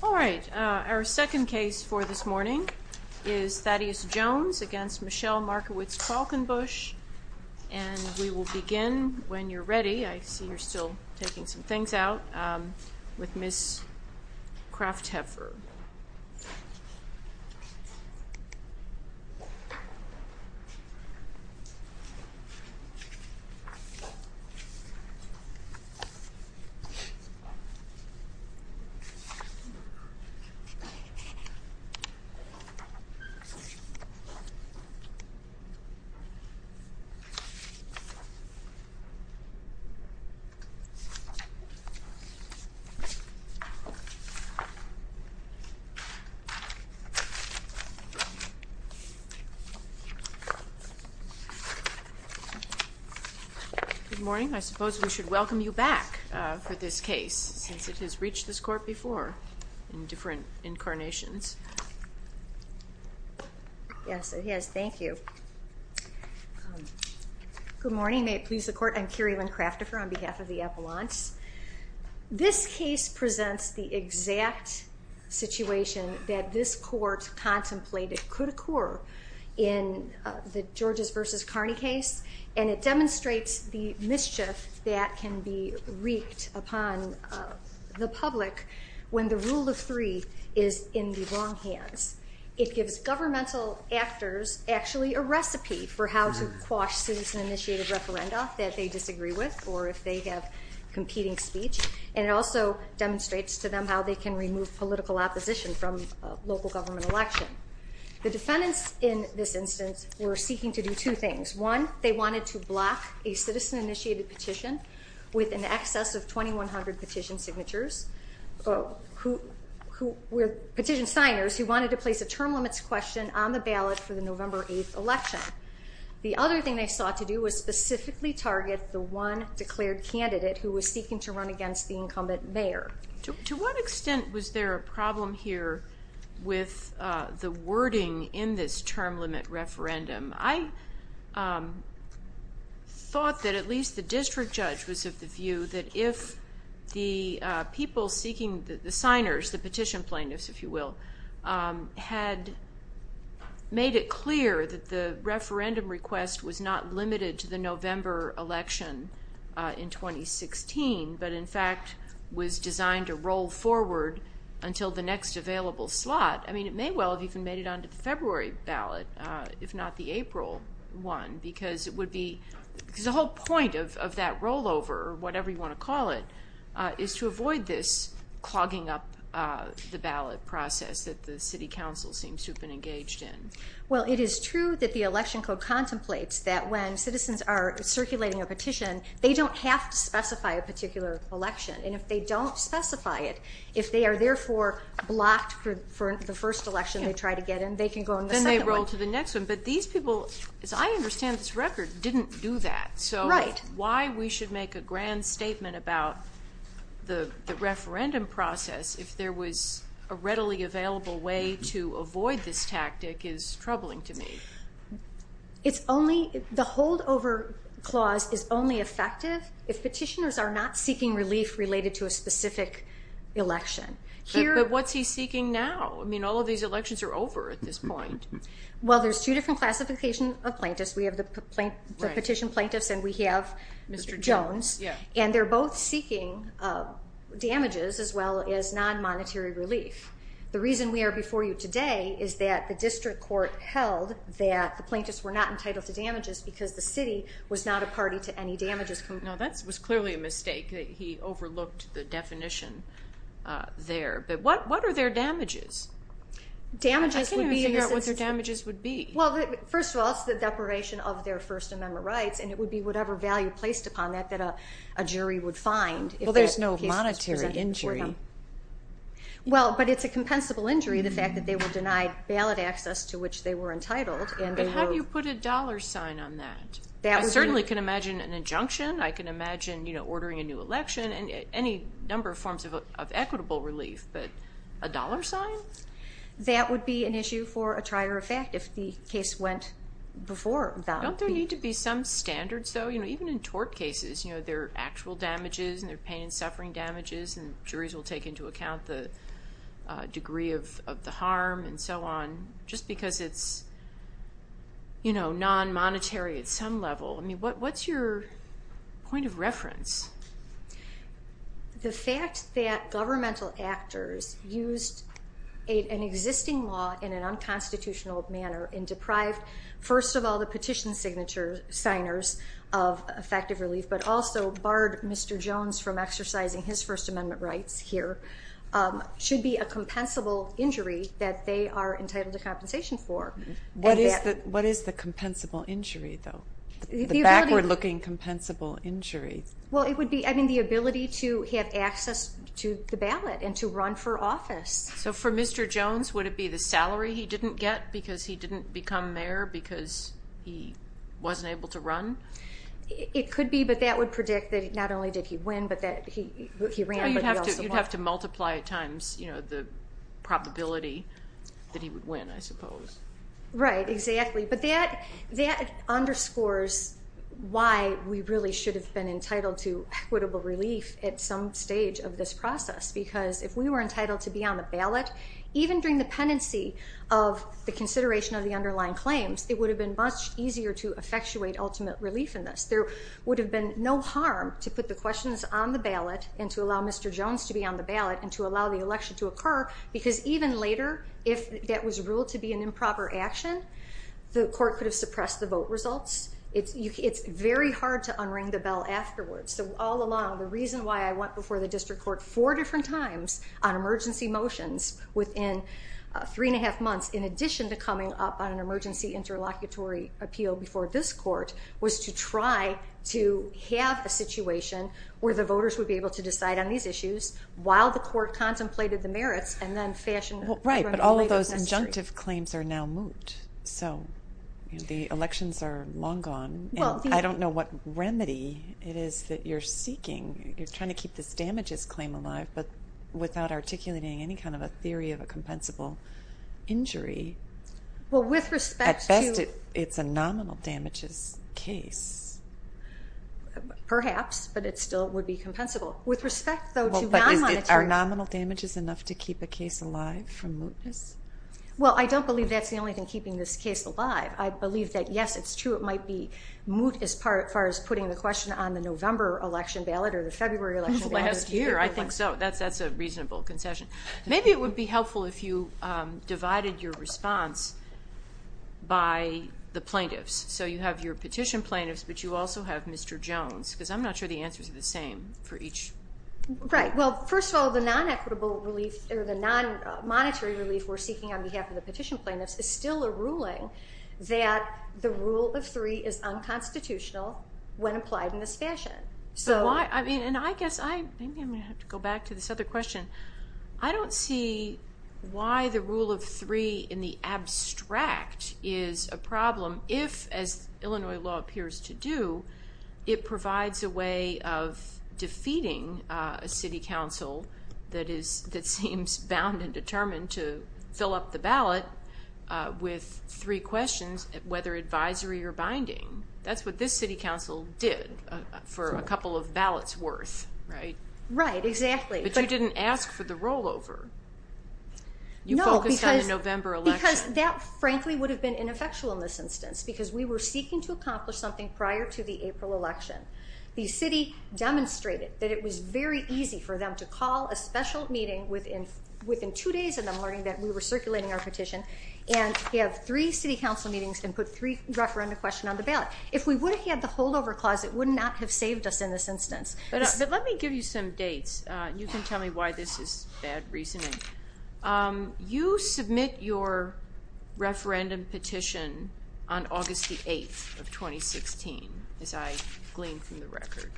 All right, our second case for this morning is Thaddeus Jones v. Michelle Markowitz Qualkinbush, and we will begin when you're ready. I see Good morning. I suppose we should welcome you back for this case, since it has reached this Court before in different incarnations. Yes, it has. Thank you. Good morning. May it please the Court, I'm Kerri-Lynn Craftifer on behalf of the Appellants. This case presents the exact situation that this Court contemplated could occur in the Georges v. Carney case, and it demonstrates the mischief that can be wreaked upon the public when the rule of three is in the wrong hands. It gives governmental actors actually a recipe for how to quash citizen-initiated referenda that they disagree with or if they have competing speech, and it also demonstrates to them how they can remove political opposition from local government election. The defendants in this instance were seeking to do two things. One, they wanted to block a citizen-initiated petition with an excess of 2,100 petition signers who wanted to place a term limits question on the ballot for the November 8th election. The other thing they sought to do was specifically target the one declared candidate who was seeking to run against the incumbent mayor. To what extent was there a problem here with the wording in this term limit referendum? I thought that at least the district judge was of the view that if the people seeking, the signers, the petition plaintiffs, if you will, had made it clear that the referendum request was not until the next available slot. I mean, it may well have even made it onto the February ballot, if not the April one, because it would be, because the whole point of that rollover, whatever you want to call it, is to avoid this clogging up the ballot process that the city council seems to have been engaged in. Well, it is true that the election code contemplates that when citizens are circulating a petition, they don't have to specify a particular election. And if they don't specify it, if they are therefore blocked for the first election they try to get in, they can go in the second one. Then they roll to the next one. But these people, as I understand this record, didn't do that. So why we should make a grand statement about the referendum process if there was a readily available way to avoid this tactic is troubling to me. It's only, the holdover clause is only effective if petitioners are not seeking relief related to a specific election. But what's he seeking now? I mean, all of these elections are over at this point. Well, there's two different classifications of plaintiffs. We have the petition plaintiffs and we have Mr. Jones. And they're both seeking damages as well as non-monetary relief. The reason we are before you today is that the district court held that the plaintiffs were not entitled to damages because the city was not a party to any he overlooked the definition there. But what are their damages? I can't even figure out what their damages would be. Well, first of all, it's the deprivation of their First Amendment rights. And it would be whatever value placed upon that that a jury would find. Well, there's no monetary injury. Well, but it's a compensable injury, the fact that they were denied ballot access to which they were entitled. But how do you put a dollar sign on that? I certainly can and any number of forms of equitable relief, but a dollar sign that would be an issue for a trier effect if the case went before. Don't there need to be some standards, though, even in tort cases, you know, their actual damages and their pain and suffering damages. And juries will take into account the degree of the harm and so on just because it's, you know, non-monetary at some level. I mean, what's your point of reference? The fact that governmental actors used an existing law in an unconstitutional manner and deprived, first of all, the petition signatures signers of effective relief, but also barred Mr. Jones from exercising his First Amendment rights here should be a compensable injury that they are entitled to compensation for. What is the compensable injury, though? The backward-looking compensable injury? Well, it would be, I mean, the ability to have access to the ballot and to run for office. So for Mr. Jones, would it be the salary he didn't get because he didn't become mayor because he wasn't able to run? It could be, but that would predict that not only did he win, but that he ran. You'd have to multiply at times, you know, the probability that he would win, I suppose. Right, exactly. But that underscores why we really should have been entitled to equitable relief at some stage of this process, because if we were entitled to be on the ballot, even during the pendency of the consideration of the underlying claims, it would have been much easier to effectuate ultimate relief in this. There would have been no harm to put the questions on the ballot and to allow Mr. Jones to be on the ballot and to allow the election to occur, because even later, if that was ruled to be an improper action, the court could have suppressed the vote results. It's very hard to unring the bell afterwards. So all along, the reason why I went before the district court four different times on emergency motions within three and a half months, in addition to coming up on an emergency interlocutory appeal before this court, was to try to have a situation where the voters would be able to decide on these issues while the court contemplated the merits, and then fashion... Right, but all of those injunctive claims are now moot. So the elections are long gone, and I don't know what remedy it is that you're seeking. You're trying to keep this damages claim alive, but without articulating any kind of a theory of a compensable injury. Well, with respect to... At best, it's a nominal damages case. Perhaps, but it still would be compensable. With respect, though, to non-monetary... Well, but are nominal damages enough to keep a case alive from mootness? Well, I don't believe that's the only thing keeping this case alive. I believe that, yes, it's true it might be moot as far as putting the question on the November election ballot or the February election ballot. Last year, I think so. That's a reasonable concession. Maybe it would be helpful if you had a more reasonable response by the plaintiffs. So you have your petition plaintiffs, but you also have Mr. Jones, because I'm not sure the answers are the same for each. Right. Well, first of all, the non-equitable relief or the non-monetary relief we're seeking on behalf of the petition plaintiffs is still a ruling that the rule of three is unconstitutional when applied in this fashion. So why... I mean, and I guess I... Maybe I'm going to have to go back to this other question. I don't see why the rule of three in the abstract is a problem if, as Illinois law appears to do, it provides a way of defeating a city council that is... that seems bound and determined to fill up the ballot with three questions, whether advisory or binding. That's what this city council did for a couple of ballots worth, right? Right, exactly. But you didn't ask for the rollover. You focused on the November election. No, because that, frankly, would have been ineffectual in this instance, because we were seeking to accomplish something prior to the April election. The city demonstrated that it was very easy for them to call a special meeting within two days of them learning that we were circulating our petition and have three city council meetings and put three referenda questions on the ballot. If we would have had the holdover clause, it would not have saved us in this instance. But let me give you some dates. You can tell me why this is bad reasoning. You submit your referendum petition on August the 8th of 2016, as I glean from the record.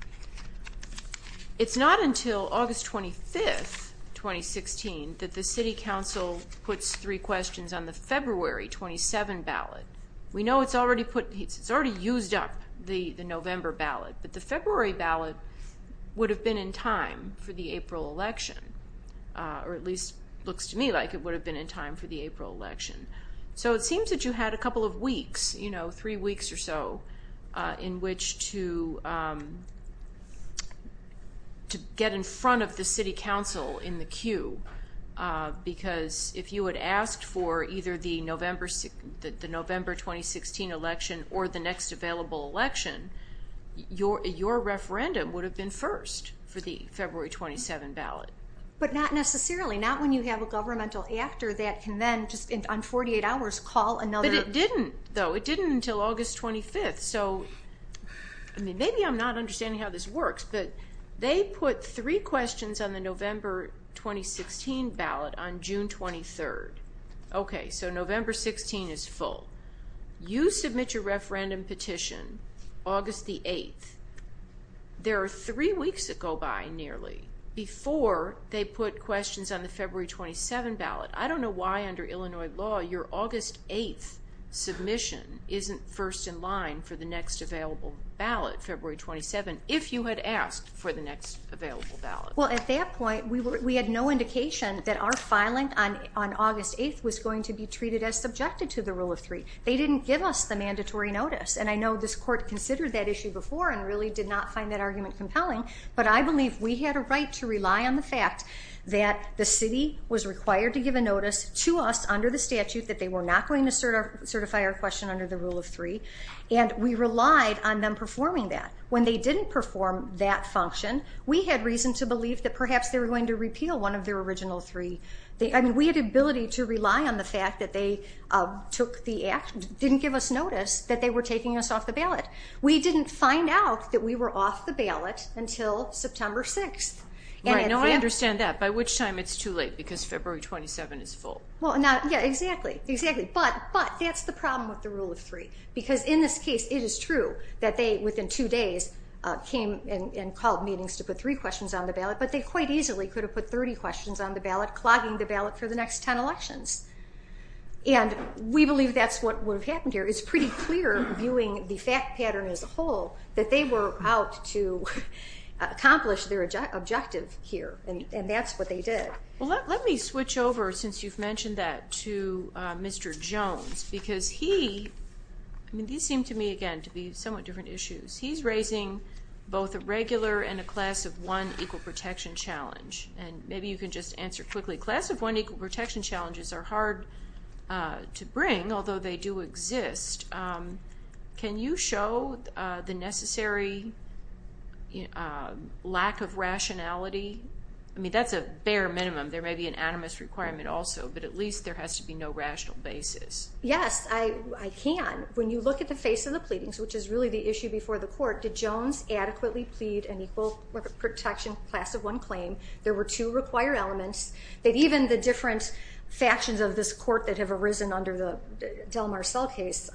It's not until August 25th, 2016, that the city council puts three questions on the February 27 ballot. We know it's already put... it's already used up the November ballot, but the February ballot would have been in time for the April election, or at least looks to me like it would have been in time for the April election. So it seems that you had a couple of weeks, you know, three weeks or so, in which to get in front of the city council in the queue, because if you had asked for either the November 2016 election or the next available election, your referendum would have been first for the February 27 ballot. But not necessarily. Not when you have a governmental actor that can then, just on 48 hours, call another... But it didn't, though. It didn't until August 25th. So, I mean, maybe I'm not understanding how this works, but they put three questions on the November 2016 ballot on June 23rd. Okay, so November 16 is full. You submit your referendum petition August the 8th. There are three weeks that go by, nearly, before they put questions on the February 27 ballot. I don't know why, under Illinois law, your August 8th submission isn't first in line for the next available ballot, February 27, if you had asked for the next available ballot. Well, at that point, we had no indication that our filing on August 8th was going to be treated as subjected to the Rule of Three. They didn't give us the mandatory notice, and I know this court considered that issue before and really did not find that argument compelling, but I believe we had a right to rely on the fact that the city was required to give a notice to us under the statute that they were not going to certify our question under the Rule of Three, and we relied on them performing that. When they didn't perform that function, we had reason to believe that perhaps they were going to repeal one of their original three. I mean, we had ability to rely on the fact that they didn't give us notice that they were taking us off the ballot. We didn't find out that we were off the ballot until September 6th. Right, now I understand that, by which time it's too late, because February 27 is full. Well, yeah, exactly, exactly, but that's the problem with the Rule of Three, because in this case, it is true that they, within two days, came and called meetings to put three questions on the ballot, but they quite easily could have put 30 questions on the ballot, clogging the ballot for the next 10 elections, and we believe that's what would have happened here. It's pretty clear, viewing the fact pattern as a whole, that they were out to accomplish their objective here, and that's what they did. Well, let me switch over, since you've mentioned that, to Mr. Jones, because he, I mean, these seem to me, again, to be somewhat different issues. He's raising both a regular and a class of one equal protection challenge, and maybe you can just answer quickly. Class of one equal protection challenges are hard to bring, although they do exist. Can you show the necessary lack of rationality? I mean, that's a bare minimum. There may be an anonymous requirement also, but at least there has to be no rational basis. Yes, I can. When you look at the face of the pleadings, which is really the issue before the court, did Jones adequately plead an equal protection class of one claim? There were two required elements that even the different factions of this court that have arisen under the Del Mar Cell case,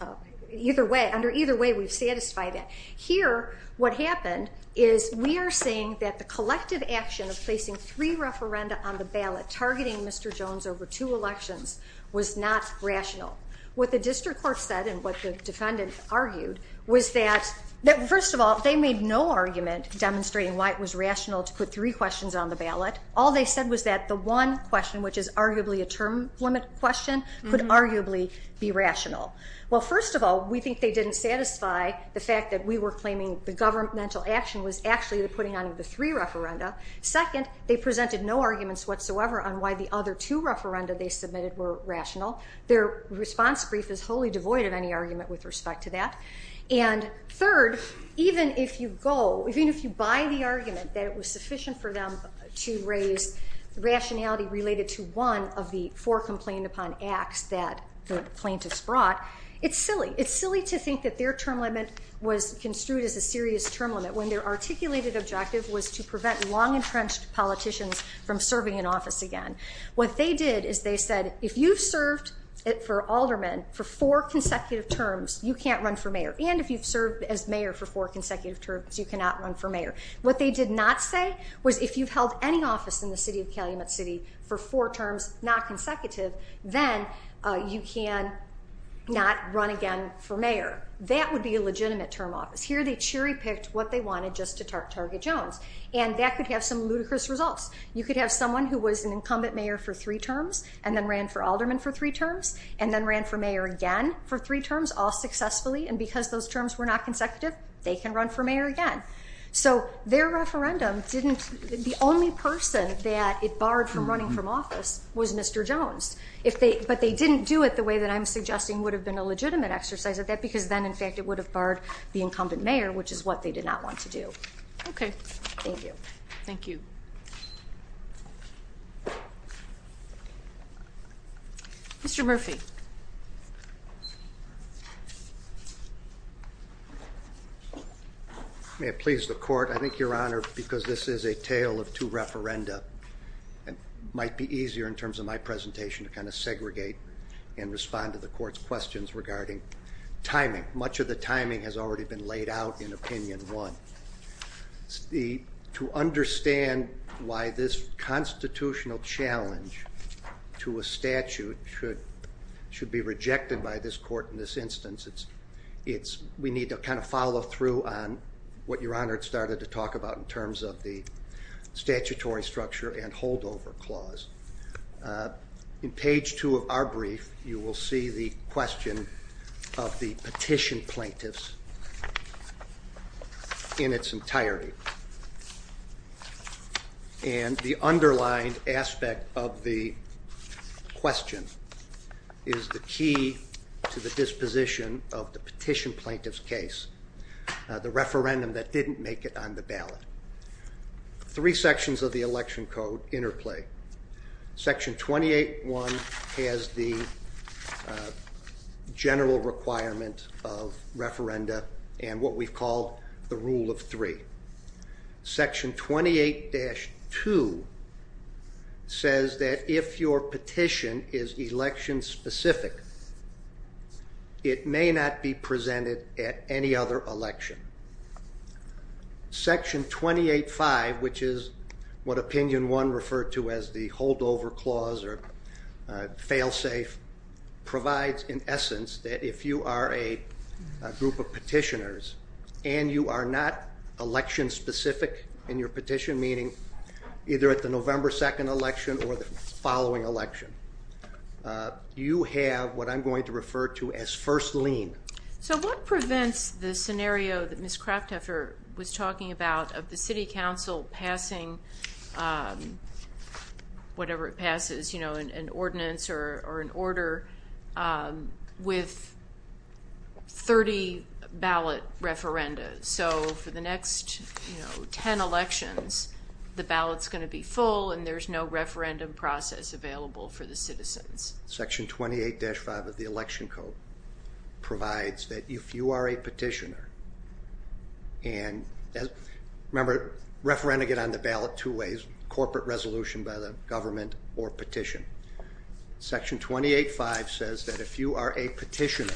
either way, under either way, we've satisfied that. Here, what happened is we are seeing that the collective action of placing three referenda on the ballot targeting Mr. Jones over two elections was not rational. What the district court said and what the defendant argued was that, first of all, they made no argument demonstrating why it was rational to put three questions on the ballot. All they said was that the one question, which is arguably a term limit question, could arguably be rational. Well, first of all, we think they didn't satisfy the fact that we were claiming the governmental action was actually the putting on of the three referenda. Second, they presented no arguments whatsoever on why the other two referenda they submitted were rational. Their response brief is wholly devoid of any argument with respect to that. And third, even if you go, even if you buy the argument that it was sufficient for them to raise rationality related to one of the four complained upon acts that the plaintiffs brought, it's silly. It's silly to think that their term limit was construed as a objective was to prevent long-entrenched politicians from serving in office again. What they did is they said, if you've served for aldermen for four consecutive terms, you can't run for mayor. And if you've served as mayor for four consecutive terms, you cannot run for mayor. What they did not say was if you've held any office in the city of Calumet City for four terms, not consecutive, then you can not run again for mayor. That would be a legitimate term office. They cherry-picked what they wanted just to target Jones. And that could have some ludicrous results. You could have someone who was an incumbent mayor for three terms, and then ran for alderman for three terms, and then ran for mayor again for three terms, all successfully. And because those terms were not consecutive, they can run for mayor again. So their referendum didn't, the only person that it barred from running from office was Mr. Jones. But they didn't do it the way that I'm suggesting would have been a legitimate exercise of that, because then in fact it would have barred the incumbent mayor, which is what they did not want to do. Okay. Thank you. Thank you. Mr. Murphy. May it please the court. I think your honor, because this is a tale of two referenda, it might be easier in terms of my presentation to kind of segregate and respond to the court's questions regarding timing. Much of the timing has already been laid out in opinion one. To understand why this constitutional challenge to a statute should be rejected by this court in this instance, we need to kind of follow through on what your honor had started to talk about in terms of the statutory structure and holdover clause. In page two of our brief, you will see the question of the petition plaintiffs in its entirety. And the underlined aspect of the question is the key to the disposition of the petition plaintiff's case, the referendum that didn't make it on the ballot. Three sections of the election code interplay. Section 28.1 has the general requirement of referenda and what we've called the rule of three. Section 28-2 says that if your petition is election specific, it may not be presented at any other election. Section 28-5, which is what opinion one referred to as the holdover clause or failsafe, provides in essence that if you are a group of petitioners and you are not election specific in your petition, meaning either at the November 2nd election or the following election, you have what I'm going to refer to as first lien. So what prevents the whatever it passes, an ordinance or an order with 30 ballot referenda. So for the next 10 elections, the ballot's going to be full and there's no referendum process available for the citizens. Section 28-5 of the election code provides that if you are a petitioner and remember referenda get on the ballot two ways, corporate resolution by the government or petition. Section 28-5 says that if you are a petitioner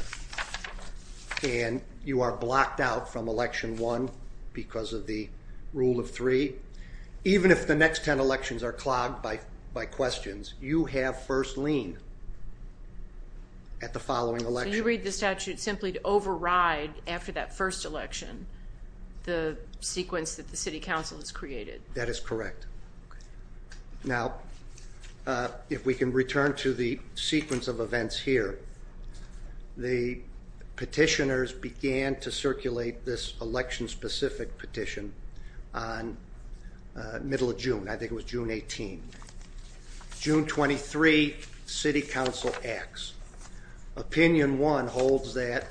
and you are blocked out from election one because of the rule of three, even if the next 10 elections are clogged by questions, you have first lien at the following election. So you read the statute simply to override after that first election the sequence that the city council has created. That is correct. Now if we can return to the sequence of events here, the petitioners began to circulate this election specific petition on middle of June. I think it was June 18. June 23, city council acts. Opinion one holds that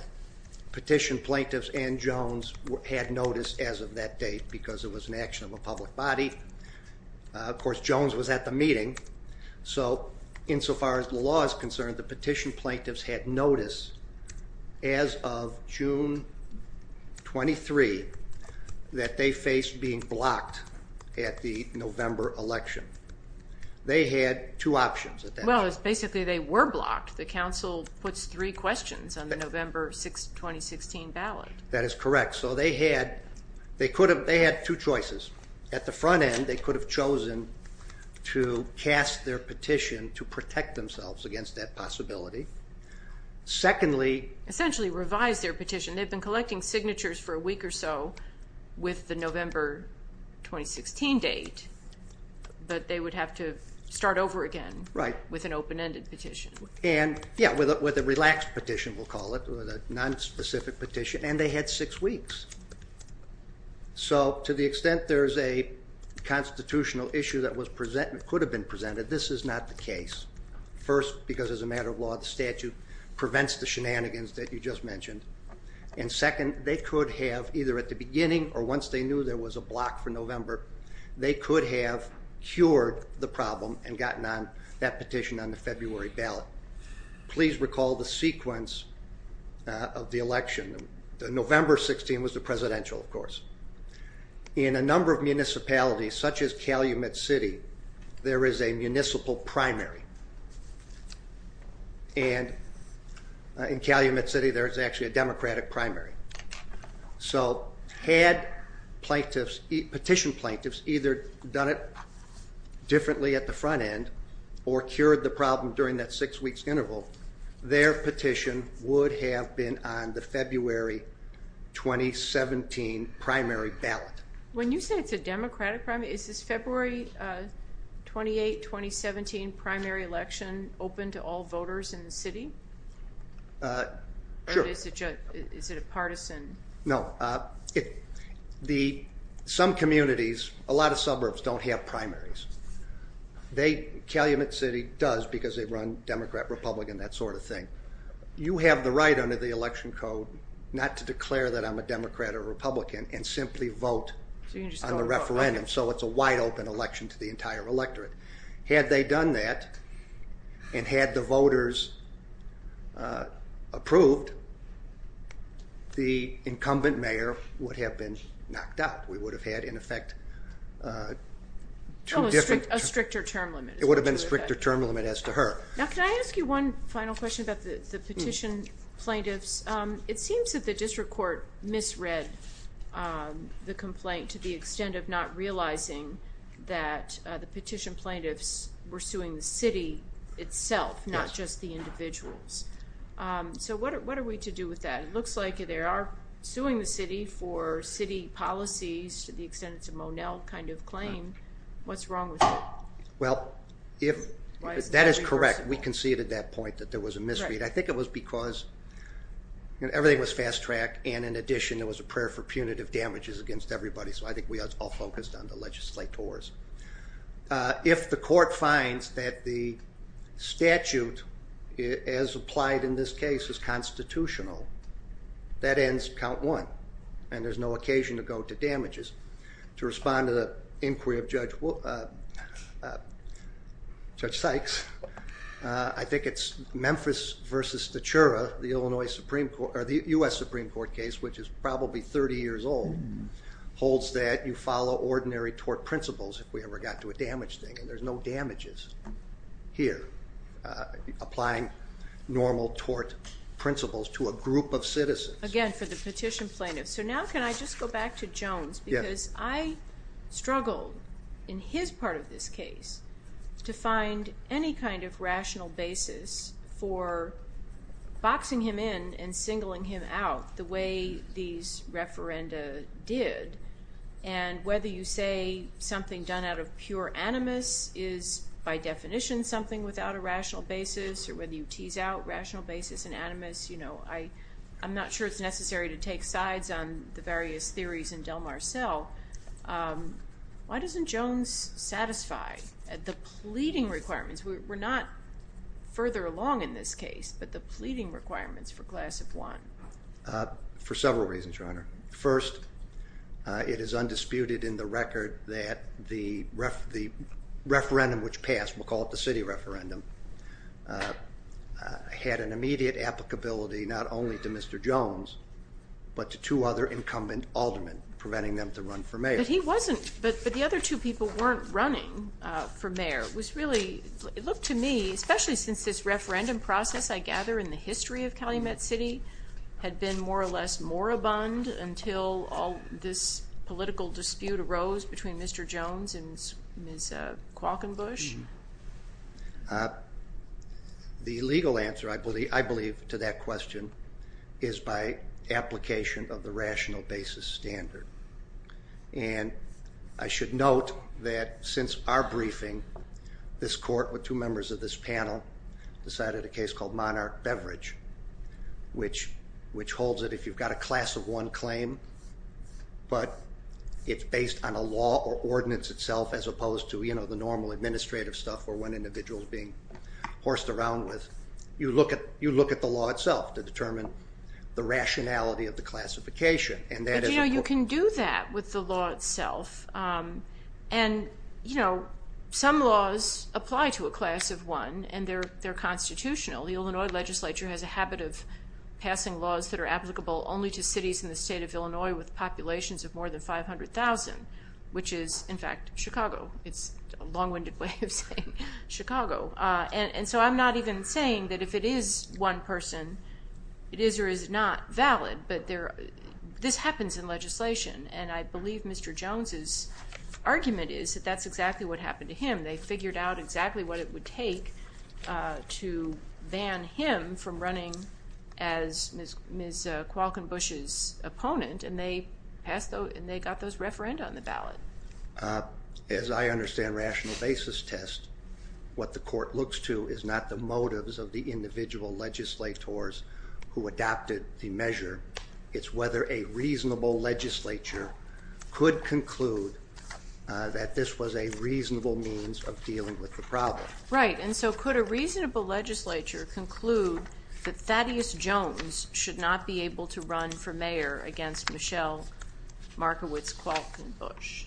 Ben Jones had notice as of that date because it was an action of a public body. Of course, Jones was at the meeting. So insofar as the law is concerned, the petition plaintiffs had notice as of June 23 that they faced being blocked at the November election. They had two options. Well it's basically they were blocked. The council puts three questions on the November 2016 ballot. That is correct. So they had two choices. At the front end, they could have chosen to cast their petition to protect themselves against that possibility. Secondly, essentially revise their petition. They've been collecting signatures for a week or so with the November 2016 date, but they would have to start over again with an open-ended petition. Yeah, with a relaxed petition, we'll call it, with a nonspecific petition, and they had six weeks. So to the extent there's a constitutional issue that could have been presented, this is not the case. First, because as a matter of law, the statute prevents the shenanigans that you just mentioned. And second, they could have, either at the beginning or once they knew there was a block for November, they could have cured the problem and gotten on that petition on the February ballot. Please recall the sequence of the election. November 16 was the presidential, of course. In a number of municipalities, such as Calumet City, there is a plaintiffs, petition plaintiffs, either done it differently at the front end or cured the problem during that six weeks interval. Their petition would have been on the February 2017 primary ballot. When you say it's a democratic primary, is this February 28, 2017 primary election open to all the... Some communities, a lot of suburbs, don't have primaries. Calumet City does because they run Democrat, Republican, that sort of thing. You have the right under the election code not to declare that I'm a Democrat or Republican and simply vote on the referendum. So it's a wide open election to the entire electorate. Had they done that and had the voters approved, the incumbent mayor would have been knocked out. We would have had, in effect, two different... A stricter term limit. It would have been a stricter term limit as to her. Now, can I ask you one final question about the petition plaintiffs? It seems that the district court misread the complaint to the extent of not realizing that the petition plaintiffs were suing the city itself, not just the individuals. So what are we to do with that? It looks like they are suing the city for city policies to the extent it's a Monell kind of claim. What's wrong with that? Well, if that is correct, we conceded that point that there was a misread. I think it was because everything was fast track and in addition there was a prayer for punitive damages against everybody, so I think we all focused on the legislators. If the court finds that the statute as applied in this case is unconstitutional, that ends count one and there's no occasion to go to damages. To respond to the inquiry of Judge Sykes, I think it's Memphis v. Stachura, the U.S. Supreme Court case, which is probably 30 years old, holds that you follow ordinary tort principles if we ever got to a damage thing and there's no damages here. Applying normal tort principles to a group of citizens. Again, for the petition plaintiffs. So now can I just go back to Jones because I struggled in his part of this case to find any kind of rational basis for boxing him in and singling him out the way these referenda did and whether you say something done out of pure animus is by definition something without a rational basis or whether you tease out rational basis in animus. I'm not sure it's necessary to take sides on the various theories in Del Mar Cell. Why doesn't Jones satisfy the pleading requirements? We're not further along in this case, but the pleading requirements for class of one. For several reasons, Your Honor. First, it is undisputed in the record that the Jones referendum had an immediate applicability not only to Mr. Jones, but to two other incumbent aldermen, preventing them to run for mayor. But he wasn't, but the other two people weren't running for mayor. It was really, it looked to me, especially since this referendum process, I gather, in the history of Calumet City had been more or less moribund until this political dispute arose between Mr. Jones and Ms. Qualkenbush. The legal answer, I believe, to that question is by application of the rational basis standard. And I should note that since our briefing, this court with two members of this panel decided a case called Monarch Beverage, which holds it if you've got a class of one claim, but it's based on a law or ordinance itself as opposed to the normal administrative stuff where one individual is being horsed around with, you look at the law itself to determine the rationality of the classification. But you can do that with the law itself. And some laws apply to a class of one and they're constitutional. The Illinois legislature has a habit of passing laws that are in Illinois with populations of more than 500,000, which is, in fact, Chicago. It's a long-winded way of saying Chicago. And so I'm not even saying that if it is one person, it is or is not valid. But this happens in legislation and I believe Mr. Jones' argument is that that's exactly what happened to him. They figured out exactly what it would take to ban him from running as Ms. Falkenbush's opponent and they got those referenda on the ballot. As I understand rational basis test, what the court looks to is not the motives of the individual legislators who adopted the measure. It's whether a reasonable legislature could conclude that this was a reasonable means of dealing with the problem. Right. And so could a reasonable legislature conclude that Thaddeus Jones should not be able to run for mayor against Michelle Markowitz Falkenbush?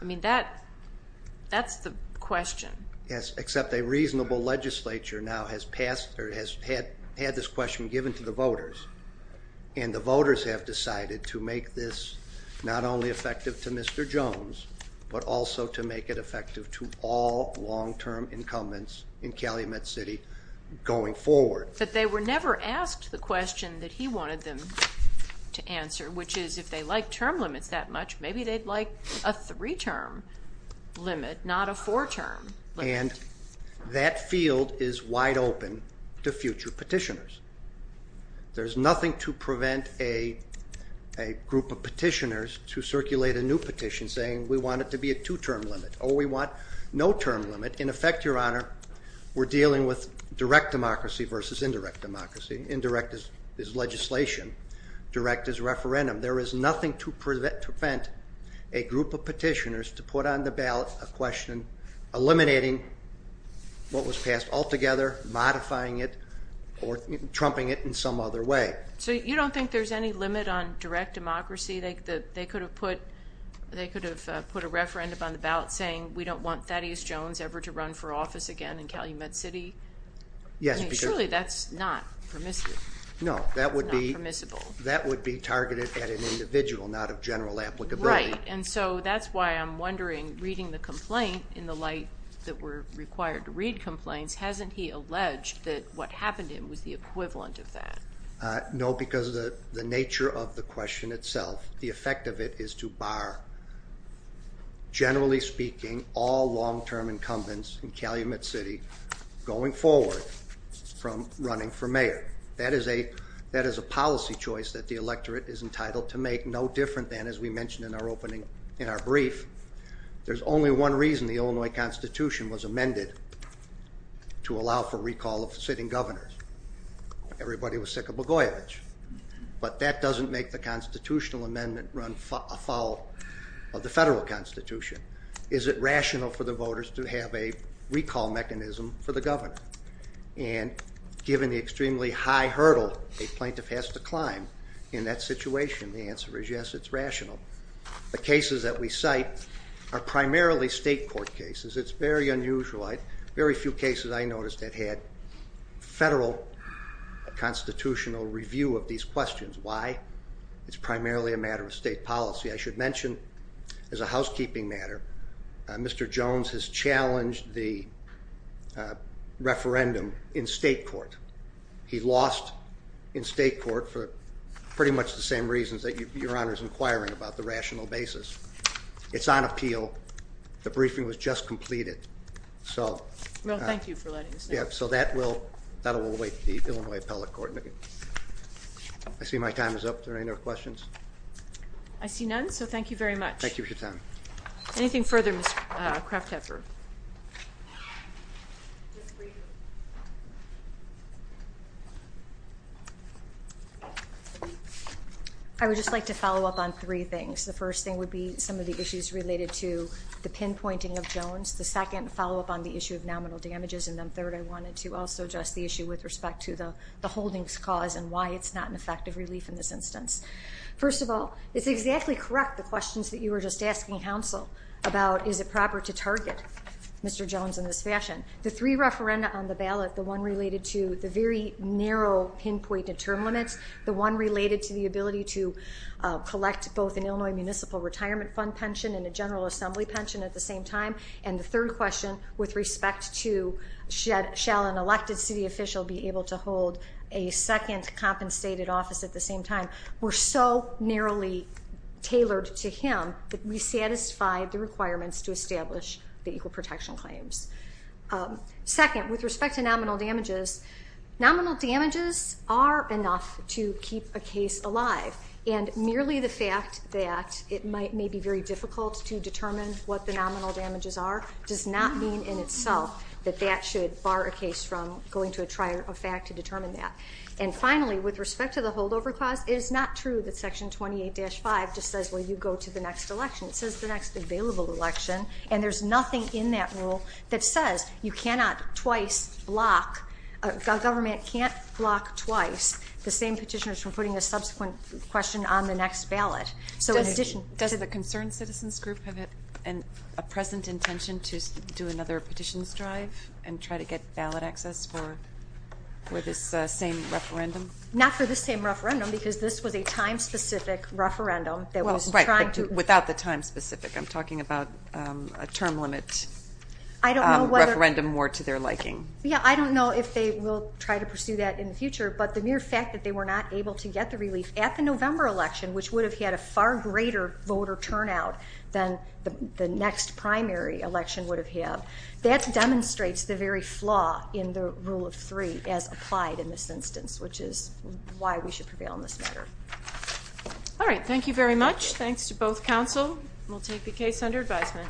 I mean, that's the question. Yes, except a reasonable legislature now has passed or has had had this question given to the voters and the voters have decided to make this not only effective to Mr. Jones, but also to make it effective to all long-term incumbents in Calumet City going forward. But they were never asked the question that he wanted them to answer, which is if they like term limits that much, maybe they'd like a three-term limit, not a four-term limit. And that field is wide open to future petitioners. There's nothing to prevent a group of petitioners to circulate a new petition saying we want it to be a two-term limit or we want no term limit. In effect, Your Honor, we're dealing with direct democracy versus indirect democracy. Indirect is legislation. Direct is referendum. There is nothing to prevent a group of petitioners to put on the ballot a question eliminating what was passed altogether, modifying it, or trumping it in some other way. So you don't think there's any limit on direct democracy? They could have put a referendum on the ballot saying we don't want Thaddeus Jones ever to run for office again in Calumet City? Yes, because... Surely that's not permissible. No, that would be targeted at an individual, not of general applicability. Right, and so that's why I'm wondering, reading the complaint in the light that we're required to read complaints, hasn't he alleged that what happened to him was the equivalent of that? No, because of the nature of the question itself. The effect of it is to bar, generally speaking, all long-term incumbents in Calumet City going forward from running for mayor. That is a policy choice that the electorate is entitled to make, no different than, as we mentioned in our opening, in our brief, there's only one reason the Illinois Constitution was amended to allow for recall of sitting governors. Everybody was sick of Blagojevich, but that doesn't make the constitutional amendment run afoul of the federal constitution. Is it rational for the voters to have a recall mechanism for the governor? And given the extremely high hurdle a plaintiff has to climb in that situation, the answer is yes, it's rational. The cases that we cite are primarily state court cases. It's very unusual. Very few cases I noticed that had federal constitutional review of these questions. Why? It's primarily a matter of state policy. I should mention, as a housekeeping matter, Mr. Jones has challenged the referendum in state court. He lost in state court for pretty much the same reasons that Your Honor is inquiring about, the rational basis. It's on appeal. The briefing was just completed. Well, thank you for letting us know. So that will await the Illinois Appellate Court. I see my time is up. Are there any more questions? I see none, so thank you very much. Thank you for your time. Anything further, Ms. Kraftheffer? Just briefly. I would just like to follow up on three things. The first thing would be some of the issues related to the pinpointing of Jones. The second, follow up on the issue of nominal damages. And then third, I wanted to also address the issue with respect to the holdings cause and why it's not an effective relief in this instance. First of all, it's exactly correct the questions that you were just asking counsel about is it proper to target Mr. Jones in this fashion. The three referenda on the ballot, the one related to the very narrow pinpointed term limits, the one related to the ability to collect both an Illinois Municipal Retirement Fund pension and a General Assembly pension at the same time, and the third question with respect to shall an elected city official be able to hold a second compensated office at the same time, were so narrowly tailored to him that we satisfied the requirements to establish the equal protection claims. Second, with respect to nominal damages, nominal damages are enough to keep a case alive. And merely the fact that it may be very difficult to determine what the nominal damages are does not mean in itself that that should bar a case from going to a trial of fact to determine that. And finally, with respect to the holdover clause, it is not true that section 28-5 just says, well, you go to the next election. It says the next available election, and there's nothing in that rule that says you cannot twice block, a government can't block twice the same petitioners from putting a subsequent question on the next ballot. So in addition- Does the concerned citizens group have a present intention to do another petitions drive and try to get ballot access for this same referendum? Not for this same referendum, because this was a time-specific referendum that was trying to- Well, right, but without the time-specific, I'm talking about a term limit- I don't know whether- Referendum more to their liking. Yeah, I don't know if they will try to pursue that in the future, but the mere fact that they were not able to get the relief at the November election, which would have had a far greater voter turnout than the next primary election would have had, that demonstrates the very flaw in the Rule of Three as applied in this instance, which is why we should prevail in this matter. All right, thank you very much. Thanks to both counsel. We'll take the case under advisement.